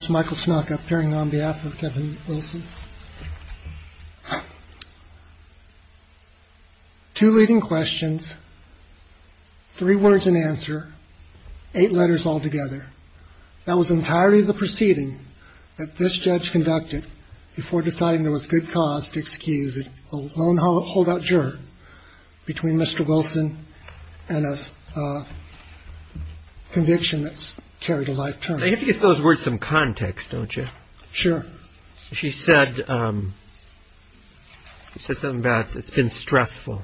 Two leading questions, three words in answer, eight letters altogether. That was entirely the proceeding that this judge conducted before deciding there was good cause to excuse a lone holdout juror between Mr. Wilson and a conviction that's carried a lifetime. You have to give those words some context, don't you? Sure. She said something about it's been stressful.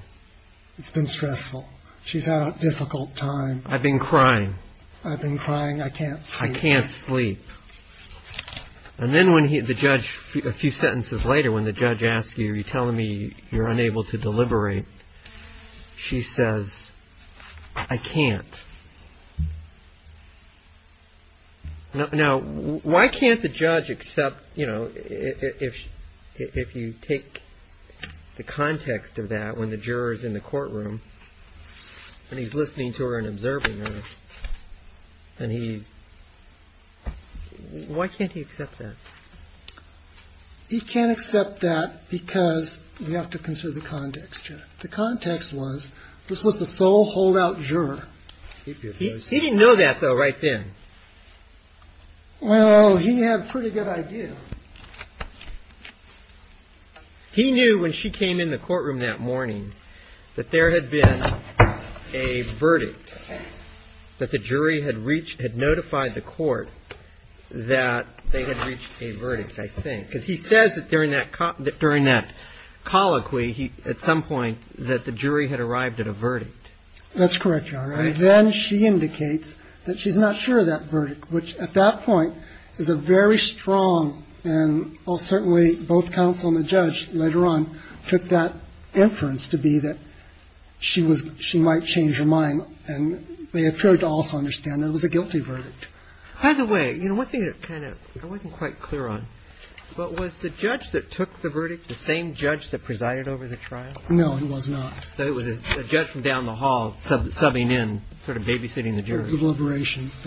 It's been stressful. She's had a difficult time. I've been crying. I've been crying. I can't sleep. I can't sleep. And then when the judge, a few sentences later, when the judge asks you, you're telling me you're unable to deliberate, she says, I can't. Now, why can't the judge accept, you know, if you take the context of that when the juror is in the courtroom and he's listening to her and observing her and he's, why can't he accept that? He can't accept that because we have to consider the context. The context was this was the sole holdout juror. He didn't know that, though, right then. Well, he had a pretty good idea. He knew when she came in the courtroom that morning that there had been a verdict that the jury had reached, had notified the court that they had reached a verdict, I think, because he says that during that during that colloquy, he at some point that the jury had arrived at a verdict. That's correct. All right. Then she indicates that she's not sure of that verdict, which at that point is a very strong. And certainly both counsel and the judge later on took that inference to be that she was she might change her mind. And they appeared to also understand it was a guilty verdict. By the way, you know, one thing that kind of I wasn't quite clear on. But was the judge that took the verdict, the same judge that presided over the trial? No, he was not. It was a judge from down the hall subbing in sort of babysitting the jury deliberations.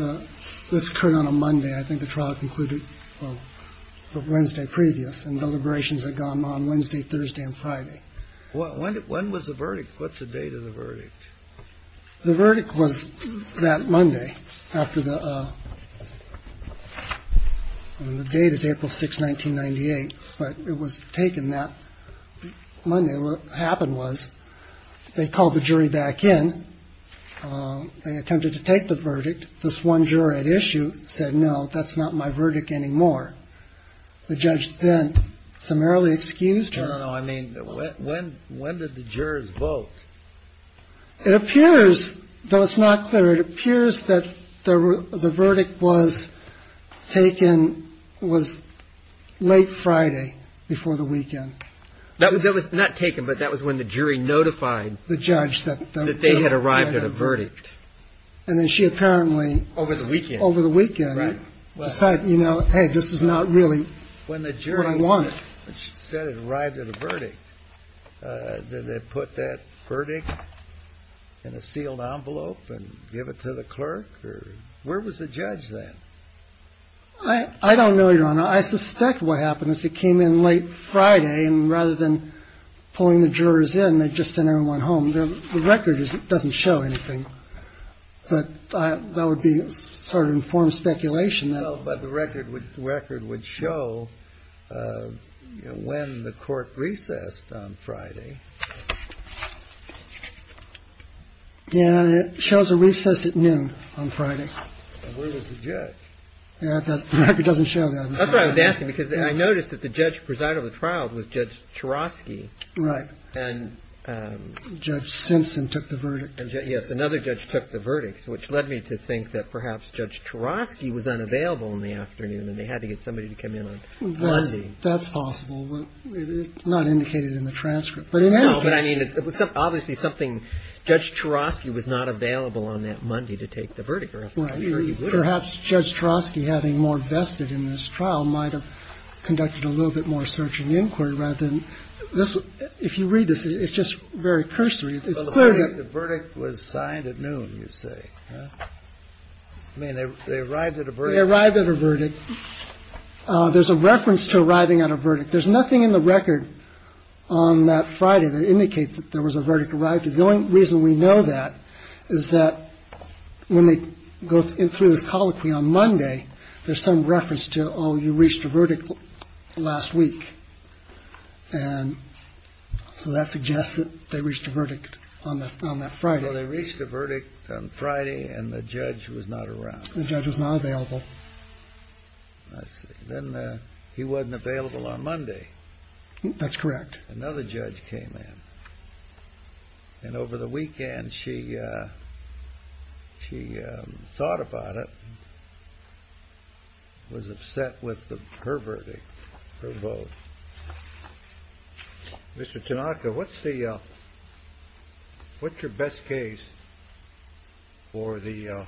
This occurred on a Monday. I think the trial concluded Wednesday previous and deliberations had gone on Wednesday, Thursday and Friday. When was the verdict? What's the date of the verdict? The verdict was that Monday after the date is April 6, 1998, but it was taken that Monday. What happened was they called the jury back in and attempted to take the verdict. This one juror at issue said, no, that's not my verdict anymore. The judge then summarily excused her. I mean, when when did the jurors vote? It appears, though it's not clear, it appears that the verdict was taken was late Friday before the weekend. That was not taken, but that was when the jury notified the judge that they had arrived at a verdict. And then she apparently over the weekend, over the weekend, you know, hey, this is not really what I want. She said it arrived at a verdict. Did they put that verdict in a sealed envelope and give it to the clerk? Where was the judge then? I don't know. I suspect what happened is it came in late Friday and rather than pulling the jurors in, they just sent everyone home. The record doesn't show anything. But that would be sort of informed speculation. But the record would record would show when the court recessed on Friday. Yeah. Shows a recess at noon on Friday. Where was the judge? The record doesn't show that. That's what I was asking, because I noticed that the judge presiding over the trial was Judge Cherovsky. Right. And Judge Simpson took the verdict. Yes. Another judge took the verdict, which led me to think that perhaps Judge Cherovsky was unavailable in the afternoon and they had to get somebody to come in on Monday. That's possible, but it's not indicated in the transcript. But in any case. No, but I mean, it was obviously something Judge Cherovsky was not available on that Monday to take the verdict. Perhaps Judge Cherovsky, having more vested in this trial, might have conducted a little bit more search and inquiry rather than this. So if you read this, it's just very cursory. The verdict was signed at noon, you say. I mean, they arrived at a verdict. They arrived at a verdict. There's a reference to arriving at a verdict. There's nothing in the record on that Friday that indicates that there was a verdict arrived. The only reason we know that is that when they go through this colloquy on Monday, there's some reference to, oh, you reached a verdict last week. And so that suggests that they reached a verdict on that Friday. They reached a verdict on Friday and the judge was not around. The judge was not available. Then he wasn't available on Monday. That's correct. Another judge came in. And over the weekend, she thought about it, was upset with her verdict, her vote. Mr. Tanaka, what's your best case for the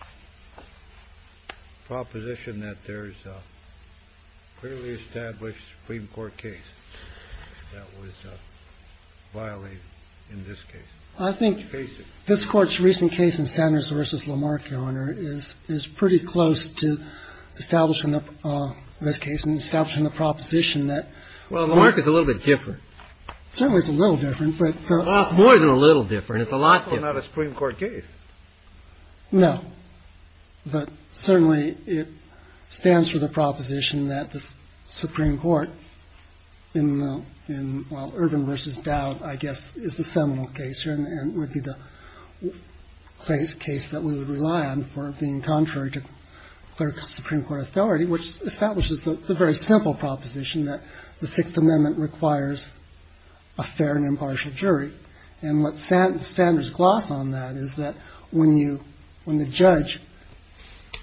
proposition that there's a clearly established Supreme Court case that was violated in this case? I think this Court's recent case in Sanders v. Lamarck, Your Honor, is pretty close to establishing this case and establishing the proposition that. Well, Lamarck is a little bit different. Certainly it's a little different, but. It's more than a little different. It's a lot different. It's not a Supreme Court case. No. But certainly it stands for the proposition that the Supreme Court, in Irvin v. Dowd, I guess, is the seminal case here and would be the case that we would rely on for being contrary to clerical Supreme Court authority, which establishes the very simple proposition that the Sixth Amendment requires a fair and impartial jury. And what Sanders glossed on that is that when you, when the judge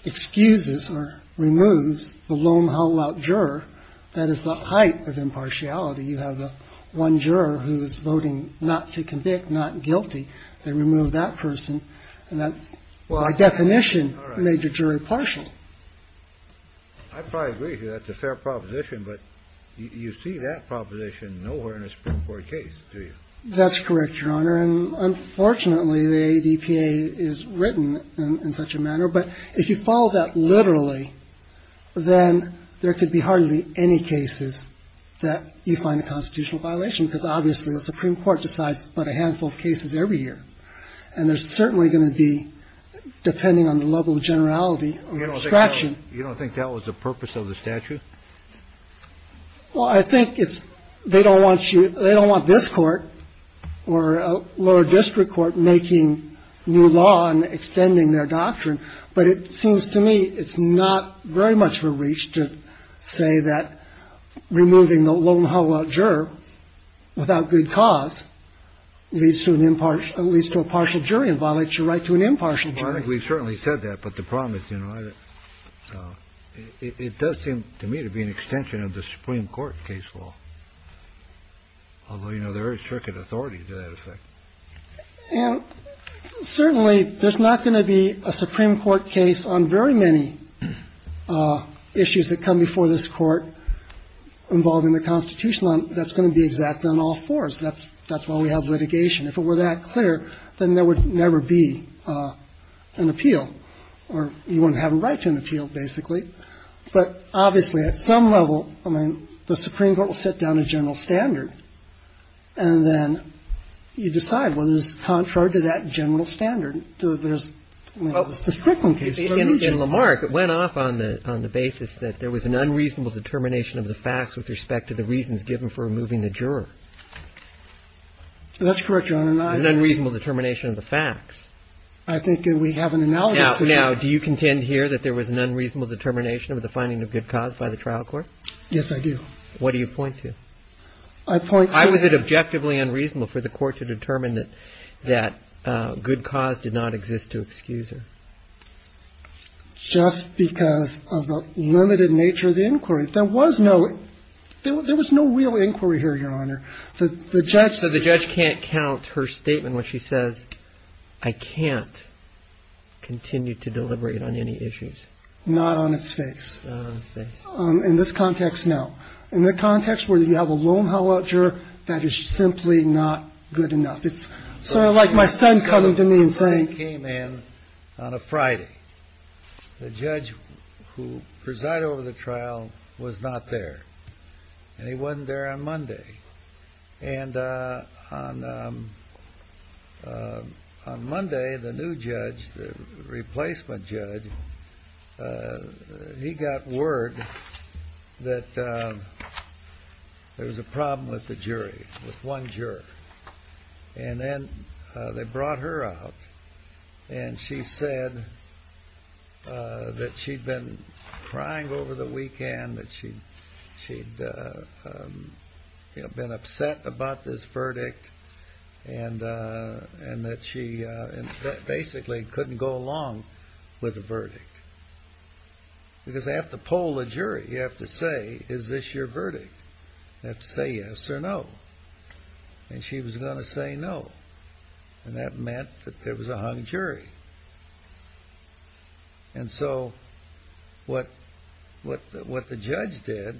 excuses or removes the loam-hull-out juror, that is the height of impartiality. You have one juror who is voting not to convict, not guilty. They remove that person. And that's, by definition, a major jury partial. I probably agree with you. That's a fair proposition. But you see that proposition nowhere in a Supreme Court case, do you? That's correct, Your Honor. And unfortunately, the ADPA is written in such a manner. But if you follow that literally, then there could be hardly any cases that you find a constitutional violation, because obviously the Supreme Court decides but a handful of cases every year. And there's certainly going to be, depending on the level of generality of abstraction. You don't think that was the purpose of the statute? Well, I think it's they don't want you, they don't want this court or a lower district court making new law and extending their doctrine. But it seems to me it's not very much of a reach to say that removing the loam-hull-out juror without good cause leads to an impartial, leads to a partial jury and violates your right to an impartial jury. Well, I think we've certainly said that. But the problem is, you know, it does seem to me to be an extension of the Supreme Court case law, although, you know, there is circuit authority to that effect. And certainly there's not going to be a Supreme Court case on very many issues that come before this Court involving the constitutional. That's going to be exact on all fours. That's why we have litigation. If it were that clear, then there would never be an appeal. Or you wouldn't have a right to an appeal, basically. But obviously, at some level, I mean, the Supreme Court will set down a general standard, and then you decide whether it's contrary to that general standard. There's, I mean, there's frequent cases. In Lamarck, it went off on the basis that there was an unreasonable determination of the facts with respect to the reasons given for removing the juror. An unreasonable determination of the facts. I think that we have an analogy. Now, do you contend here that there was an unreasonable determination of the finding of good cause by the trial court? Yes, I do. What do you point to? I point to the... Why was it objectively unreasonable for the Court to determine that good cause did not exist to excuse her? Just because of the limited nature of the inquiry. There was no real inquiry here, Your Honor. The judge... I can't continue to deliberate on any issues. Not on its face. In this context, no. In the context where you have a loam-hulled juror, that is simply not good enough. It's sort of like my son coming to me and saying... My son came in on a Friday. The judge who presided over the trial was not there. And he wasn't there on Monday. And on Monday, the new judge, the replacement judge, he got word that there was a problem with the jury, with one juror. And then they brought her out, and she said that she'd been crying over the weekend, that she'd been upset about this verdict, and that she basically couldn't go along with the verdict. Because they have to poll the jury. You have to say, is this your verdict? You have to say yes or no. And she was going to say no. And that meant that there was a hung jury. And so what the judge did,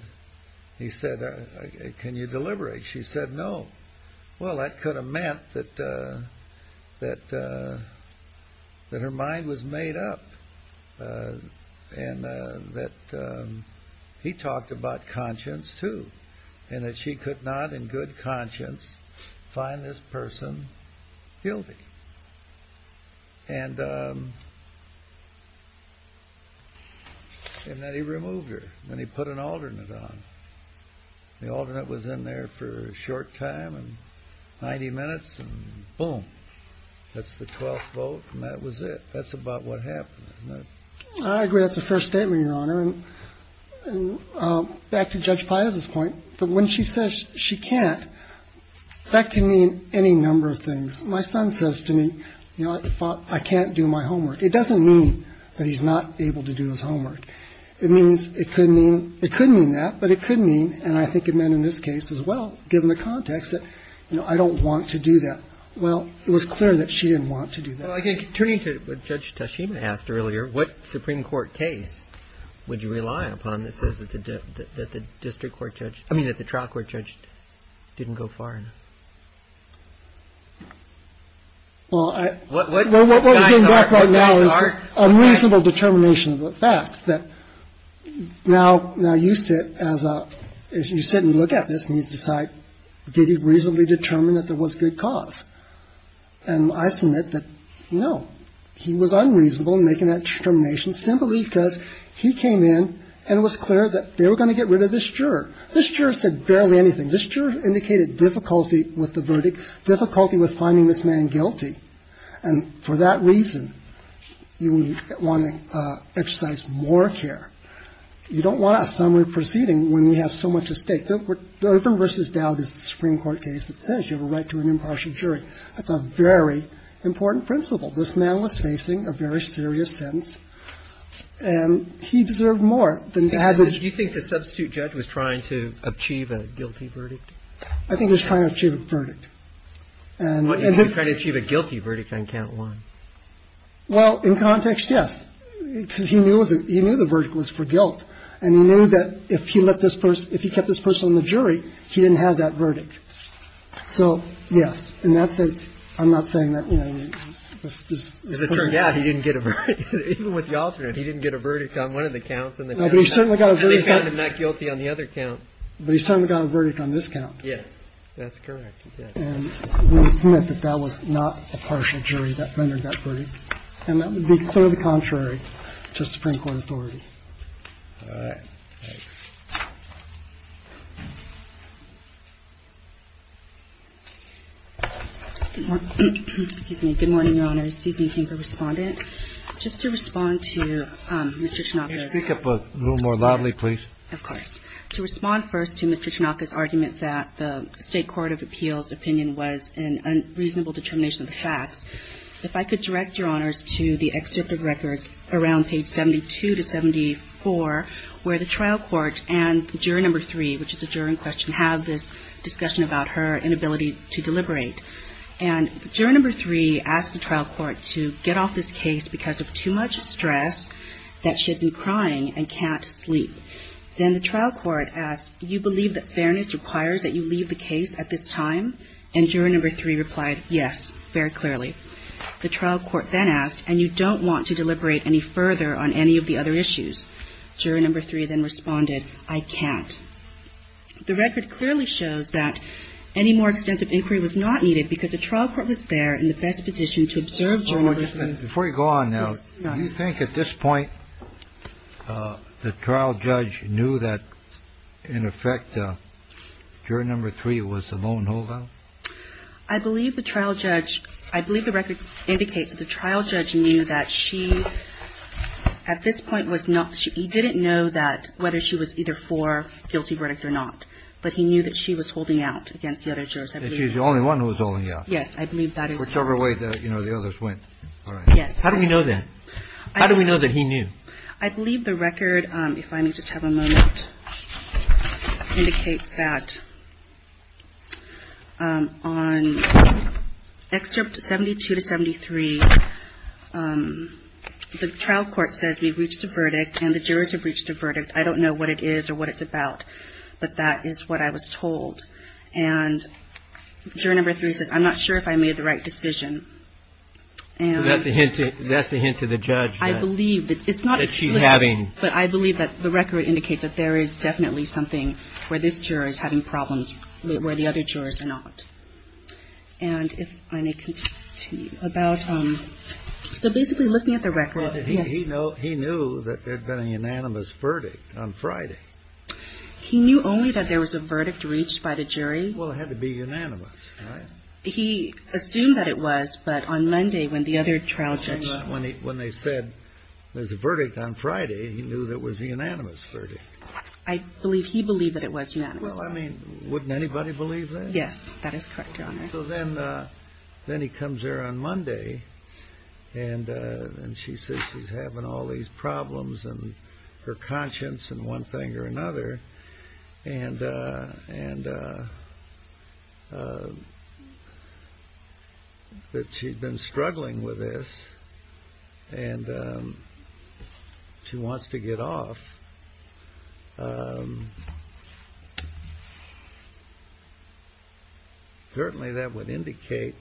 he said, can you deliberate? She said no. Well, that could have meant that her mind was made up. And that he talked about conscience too, and that she could not in good conscience find this person guilty. And that he removed her, and he put an alternate on. The alternate was in there for a short time, 90 minutes, and boom. That's the 12th vote, and that was it. That's about what happened. I agree that's a fair statement, Your Honor. And back to Judge Piazza's point, when she says she can't, that can mean any number of things. My son says to me, you know, I can't do my homework. It doesn't mean that he's not able to do his homework. It means it could mean that, but it could mean, and I think it meant in this case as well, given the context, that I don't want to do that. Well, it was clear that she didn't want to do that. Well, I think, turning to what Judge Tashima asked earlier, what Supreme Court case would you rely upon that says that the district court judge, I mean that the trial court judge didn't go far enough? Well, what we're getting back right now is unreasonable determination of the facts. Now, you sit and look at this and you decide, did he reasonably determine that there was good cause? And I submit that, no, he was unreasonable in making that determination simply because he came in and it was clear that they were going to get rid of this juror. This juror said barely anything. This juror indicated difficulty with the verdict, difficulty with finding this man guilty. And for that reason, you would want to exercise more care. You don't want a summary proceeding when you have so much at stake. The Irvin v. Dowd is a Supreme Court case that says you have a right to an impartial jury. That's a very important principle. This man was facing a very serious sentence, and he deserved more than to have it. Do you think the substitute judge was trying to achieve a guilty verdict? I think he was trying to achieve a verdict. He was trying to achieve a guilty verdict on count one. Well, in context, yes, because he knew the verdict was for guilt, and he knew that if he let this person, if he kept this person on the jury, he didn't have that verdict. So, yes, in that sense, I'm not saying that, you know. As it turned out, he didn't get a verdict. Even with the alternate, he didn't get a verdict on one of the counts. No, but he certainly got a verdict. They found him not guilty on the other count. But he certainly got a verdict on this count. Yes. That's correct. And we submit that that was not a partial jury that rendered that verdict. And that would be clearly contrary to Supreme Court authority. All right. Thanks. Good morning, Your Honors. My name is Susan Kimper, Respondent. Just to respond to Mr. Tanaka's. Can you speak up a little more loudly, please? Of course. To respond first to Mr. Tanaka's argument that the State Court of Appeals' opinion was an unreasonable determination of the facts, if I could direct Your Honors to the excerpt of records around page 72 to 74, where the trial court and juror number three, which is a juror in question, have this discussion about her inability to deliberate. And juror number three asked the trial court to get off this case because of too much stress that she had been crying and can't sleep. Then the trial court asked, you believe that fairness requires that you leave the case at this time? And juror number three replied, yes, very clearly. The trial court then asked, and you don't want to deliberate any further on any of the other issues? Juror number three then responded, I can't. The record clearly shows that any more extensive inquiry was not needed because the trial court was there in the best position to observe juror number three. Before you go on now, do you think at this point the trial judge knew that, in effect, juror number three was the lone holdout? I believe the trial judge – I believe the records indicate that the trial judge knew that she, at this point, he didn't know that whether she was either for guilty verdict or not. But he knew that she was holding out against the other jurors, I believe. And she was the only one who was holding out. Yes, I believe that is correct. Whichever way, you know, the others went. Yes. How do we know that? How do we know that he knew? I believe the record, if I may just have a moment, indicates that on excerpt 72 to 73, the trial court says we've reached a verdict and the jurors have reached a verdict. I don't know what it is or what it's about, but that is what I was told. And juror number three says, I'm not sure if I made the right decision. And – That's a hint to the judge that – I believe – That she's having – But I believe that the record indicates that there is definitely something where this juror is having problems where the other jurors are not. And if I may continue about – so basically looking at the record – Well, he knew that there had been a unanimous verdict on Friday. He knew only that there was a verdict reached by the jury. Well, it had to be unanimous, right? He assumed that it was, but on Monday when the other trial judge – When they said there's a verdict on Friday, he knew that was a unanimous verdict. I believe – he believed that it was unanimous. Well, I mean, wouldn't anybody believe that? Yes, that is correct, Your Honor. So then he comes here on Monday, and she says she's having all these problems in her conscience in one thing or another, and that she'd been struggling with this, and she wants to get off. Certainly that would indicate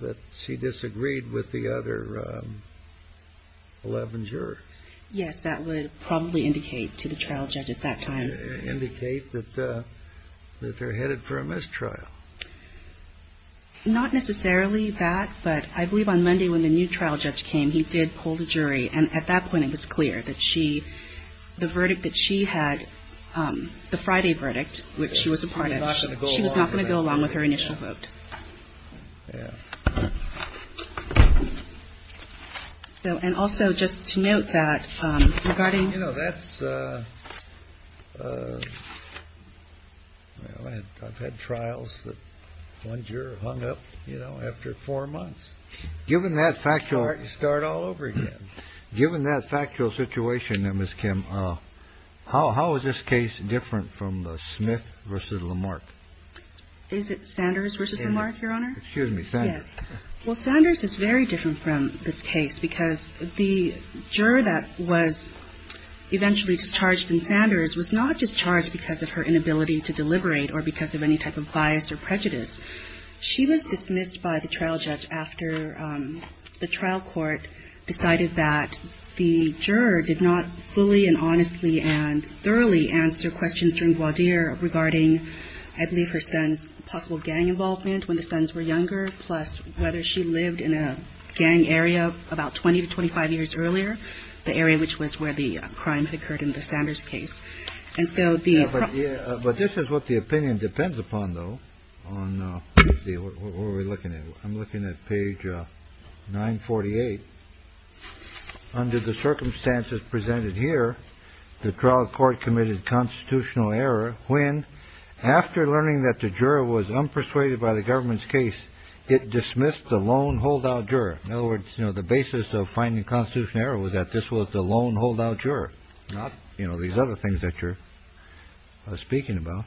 that she disagreed with the other 11 jurors. Yes, that would probably indicate to the trial judge at that time. Indicate that they're headed for a mistrial. Not necessarily that, but I believe on Monday when the new trial judge came, he did pull the jury. And at that point, it was clear that she – the verdict that she had, the Friday verdict, which she was a part of, she was not going to go along with her initial vote. And also, just to note that regarding – You know, that's – I've had trials that one juror hung up, you know, after four months. Given that factual – You start all over again. Given that factual situation, then, Ms. Kim, how is this case different from the Smith v. Lamarck? Is it Sanders v. Lamarck? Sanders v. Lamarck, Your Honor? Excuse me. Sanders. Yes. Well, Sanders is very different from this case because the juror that was eventually discharged in Sanders was not discharged because of her inability to deliberate or because of any type of bias or prejudice. She was dismissed by the trial judge after the trial court decided that the juror did not fully and honestly and thoroughly answer questions during Gwadir regarding, I believe, her son's possible gang involvement when the sons were younger, plus whether she lived in a gang area about 20 to 25 years earlier, the area which was where the crime occurred in the Sanders case. And so the – But this is what the opinion depends upon, though, on – let's see, what are we looking at? I'm looking at page 948. Under the circumstances presented here, the trial court committed constitutional error when, after learning that the juror was unpersuaded by the government's case, it dismissed the lone holdout juror. In other words, you know, the basis of finding constitutional error was that this was the lone holdout juror, not, you know, these other things that you're speaking about.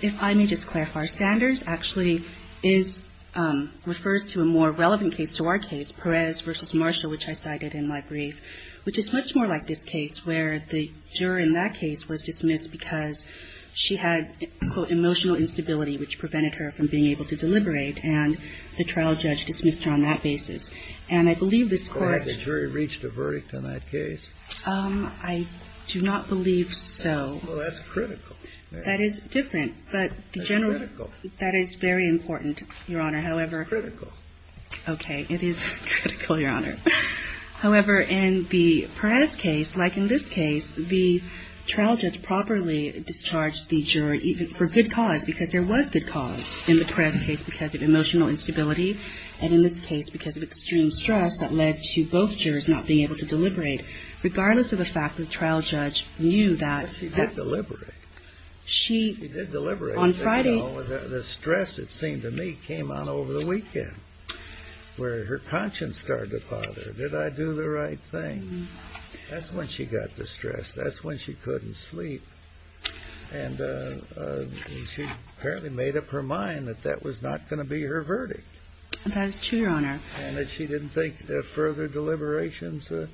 If I may just clarify, Sanders actually is – refers to a more relevant case to our case, Perez v. Marshall, which I cited in my brief, which is much more like this case where the juror in that case was dismissed because she had, quote, emotional instability, which prevented her from being able to deliberate, and the trial judge dismissed her on that basis. And I believe this court – Correct. The jury reached a verdict on that case. I do not believe so. Well, that's critical. That is different, but the general – That's critical. That is very important, Your Honor. However – It's critical. Okay. It is critical, Your Honor. However, in the Perez case, like in this case, the trial judge properly discharged the juror even for good cause, because there was good cause in the Perez case because of emotional instability, and in this case because of extreme stress that led to both jurors not being able to deliberate. Regardless of the fact that the trial judge knew that – She did deliberate. She – She did deliberate. On Friday – The stress, it seemed to me, came on over the weekend, where her conscience started to bother her. Did I do the right thing? That's when she got distressed. That's when she couldn't sleep. And she apparently made up her mind that that was not going to be her verdict. That is true, Your Honor. And that she didn't think further deliberations were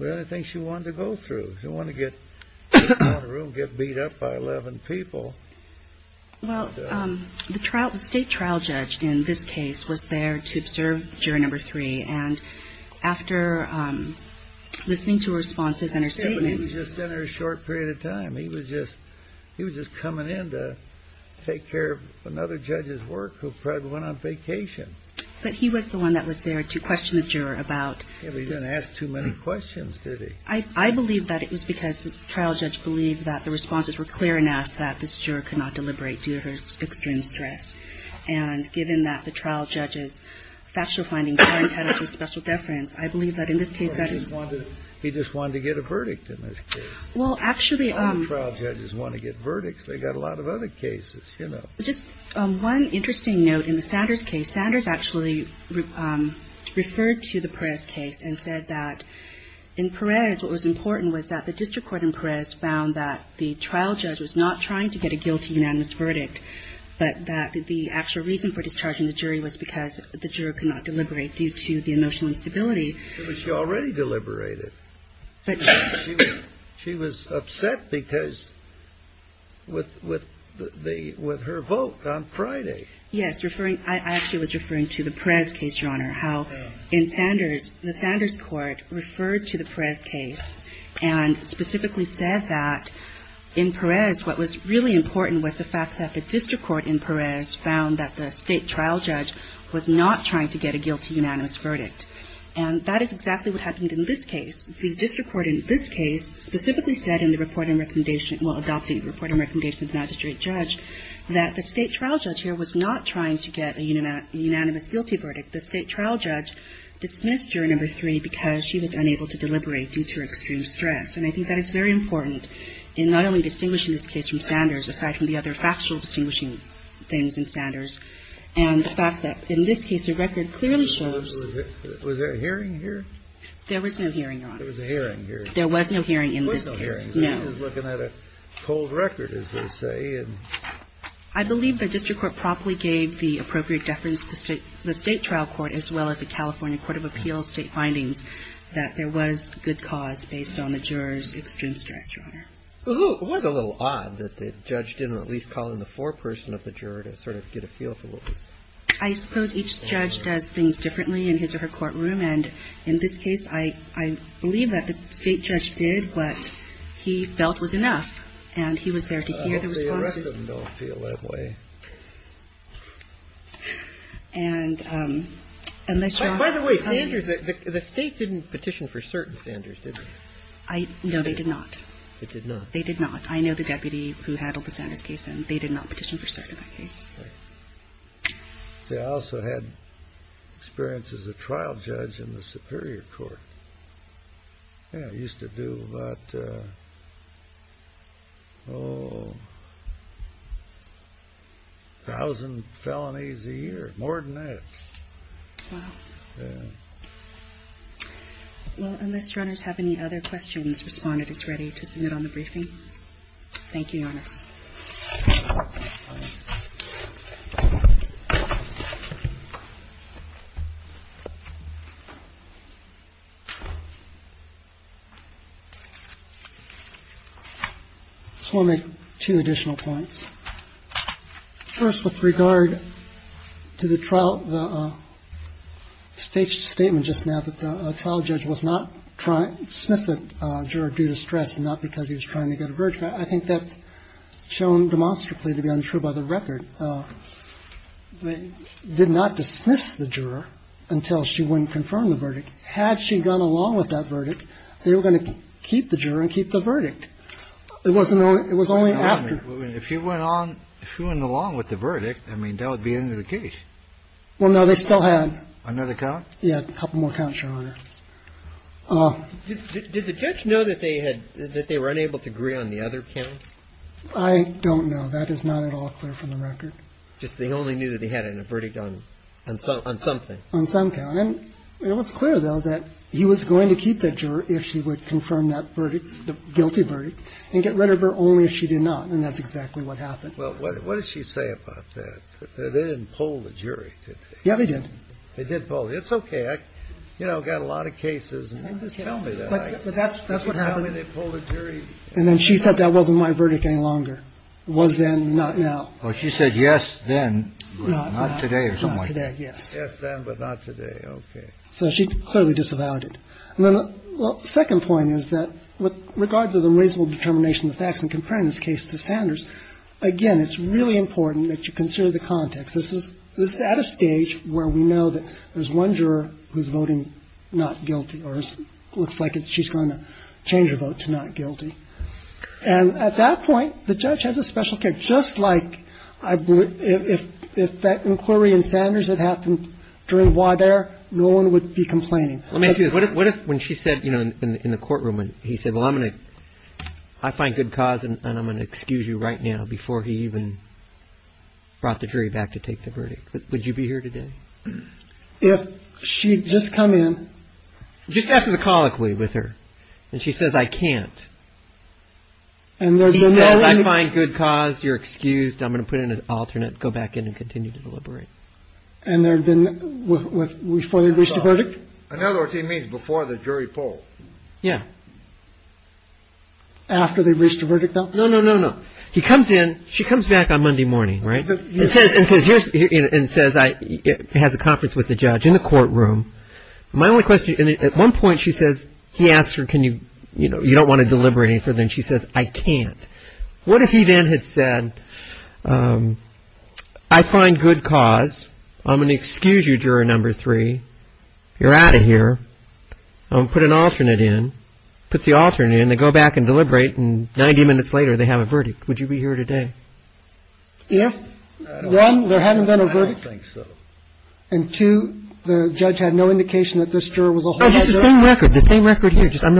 anything she wanted to go through. She didn't want to get out of the room and get beat up by 11 people. Well, the trial – the state trial judge in this case was there to observe juror number three, and after listening to her responses and her statements – Kevin was just in there a short period of time. He was just – he was just coming in to take care of another judge's work who probably went on vacation. But he was the one that was there to question the juror about – Yeah, but he didn't ask too many questions, did he? I believe that it was because the trial judge believed that the responses were clear enough that the juror could not deliberate due to her extreme stress. And given that the trial judge's factual findings weren't tied up to special deference, I believe that in this case that is – He just wanted to get a verdict in this case. Well, actually – All the trial judges want to get verdicts. They've got a lot of other cases, you know. Just one interesting note in the Sanders case. Sanders actually referred to the Perez case and said that in Perez what was important was that the district court in Perez found that the trial judge was not trying to get a guilty unanimous verdict, but that the actual reason for discharging the jury was because the juror could not deliberate due to the emotional instability. But she already deliberated. But – She was upset because – with her vote on Friday. Yes, referring – I actually was referring to the Perez case, Your Honor, how in Sanders the Sanders court referred to the Perez case and specifically said that in Perez what was really important was the fact that the district court in Perez found that the state trial judge was not trying to get a guilty unanimous verdict. And that is exactly what happened in this case. The district court in this case specifically said in the reporting recommendation – well, adopting the reporting recommendation of the magistrate judge that the state trial judge here was not trying to get a unanimous guilty verdict. The state trial judge dismissed jury number three because she was unable to deliberate due to her extreme stress. And I think that is very important in not only distinguishing this case from Sanders, aside from the other factual distinguishing things in Sanders. And the fact that in this case the record clearly shows – Was there a hearing here? There was no hearing, Your Honor. There was a hearing here. There was no hearing in this case. There was no hearing. He was looking at a cold record, as they say. I believe the district court promptly gave the appropriate deference to the state trial court as well as the California Court of Appeals state findings that there was good cause based on the juror's extreme stress, Your Honor. Well, it was a little odd that the judge didn't at least call in the foreperson of the juror to sort of get a feel for what was – I suppose each judge does things differently in his or her courtroom. And in this case, I believe that the state judge did what he felt was enough. And he was there to hear the response. The rest of them don't feel that way. By the way, the state didn't petition for cert in Sanders, did they? No, they did not. They did not? They did not. I know the deputy who handled the Sanders case, and they did not petition for cert in that case. See, I also had experience as a trial judge in the superior court. Yeah, I used to do about, oh, a thousand felonies a year, more than that. Wow. Yeah. Well, unless runners have any other questions, respondent is ready to submit on the briefing. Thank you, Your Honors. I just want to make two additional points. First, with regard to the trial – the state's statement just now that the trial judge was not trying – dismissed the juror due to stress and not because he was trying to get a verdict. I think that's shown demonstrably to be untrue by the record. They did not dismiss the juror until she went and confirmed the verdict. Had she gone along with that verdict, they were going to keep the juror and keep the verdict. It wasn't only – it was only after. If you went on – if you went along with the verdict, I mean, that would be the end of the case. Well, no, they still had. Another count? Yeah, a couple more counts, Your Honor. Did the judge know that they had – that they were unable to agree on the other counts? I don't know. That is not at all clear from the record. Just they only knew that he had a verdict on something. On some count. And it was clear, though, that he was going to keep that juror if she would confirm that verdict, the guilty verdict, and get rid of her only if she did not. And that's exactly what happened. Well, what does she say about that? They didn't poll the jury, did they? Yeah, they did. They did poll. It's okay. I, you know, got a lot of cases. Just tell me that. But that's what happened. Just tell me they polled a jury. And then she said that wasn't my verdict any longer. Was then, not now. Well, she said yes, then. Not today or somewhere. Not today, yes. Yes, then, but not today. Okay. So she clearly disavowed it. And then the second point is that with regard to the reasonable determination of the facts in comparing this case to Sanders, again, it's really important that you consider the context. This is at a stage where we know that there's one juror who's voting not guilty or looks like she's going to change her vote to not guilty. And at that point, the judge has a special case. And just like if that inquiry in Sanders had happened during voir dire, no one would be complaining. Let me ask you this. What if when she said, you know, in the courtroom, he said, well, I'm going to, I find good cause and I'm going to excuse you right now before he even brought the jury back to take the verdict? Would you be here today? If she'd just come in. Just after the colloquy with her. And she says, I can't. And he says, I find good cause. You're excused. I'm going to put in an alternate. Go back in and continue to deliberate. And there had been before the verdict. In other words, he means before the jury poll. Yeah. After they reached a verdict. No, no, no, no. He comes in. She comes back on Monday morning. Right. It says it says here and says it has a conference with the judge in the courtroom. My only question. At one point she says he asked her, can you you know, you don't want to deliberate. And she says, I can't. What if he then had said, I find good cause. I'm going to excuse you, juror number three. You're out of here. I'm going to put an alternate in. Put the alternate in. They go back and deliberate. And 90 minutes later, they have a verdict. Would you be here today? If one, there hadn't been a verdict. I don't think so. And two, the judge had no indication that this juror was a whole head of. It's the same record. The same record here. Just same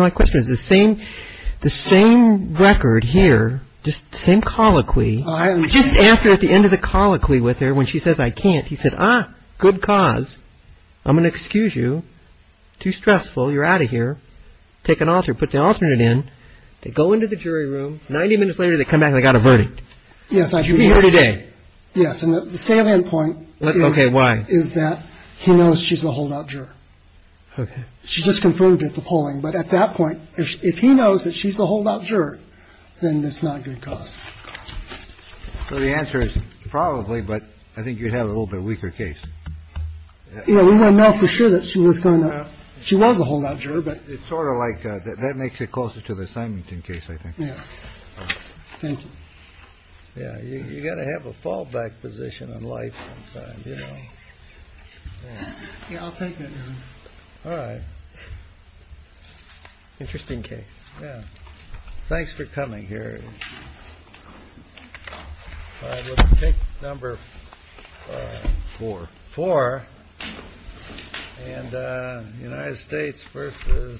colloquy. Just after at the end of the colloquy with her when she says, I can't. He said, ah, good cause. I'm going to excuse you. Too stressful. You're out of here. Take an alter. Put the alternate in. They go into the jury room. 90 minutes later, they come back. I got a verdict. Yes. Are you here today? Yes. And the salient point. OK. Why is that? He knows she's a holdout juror. She just confirmed at the polling. But at that point, if he knows that she's a holdout juror, then it's not good cause. So the answer is probably. But I think you have a little bit weaker case. You know, we don't know for sure that she was going to. She was a holdout juror. But it's sort of like that. That makes it closer to the Simington case, I think. Yes. Thank you. Yeah. You got to have a fallback position in life. I'll take it. All right. Interesting case. Yeah. Thanks for coming here. Take number four. Four. And United States versus.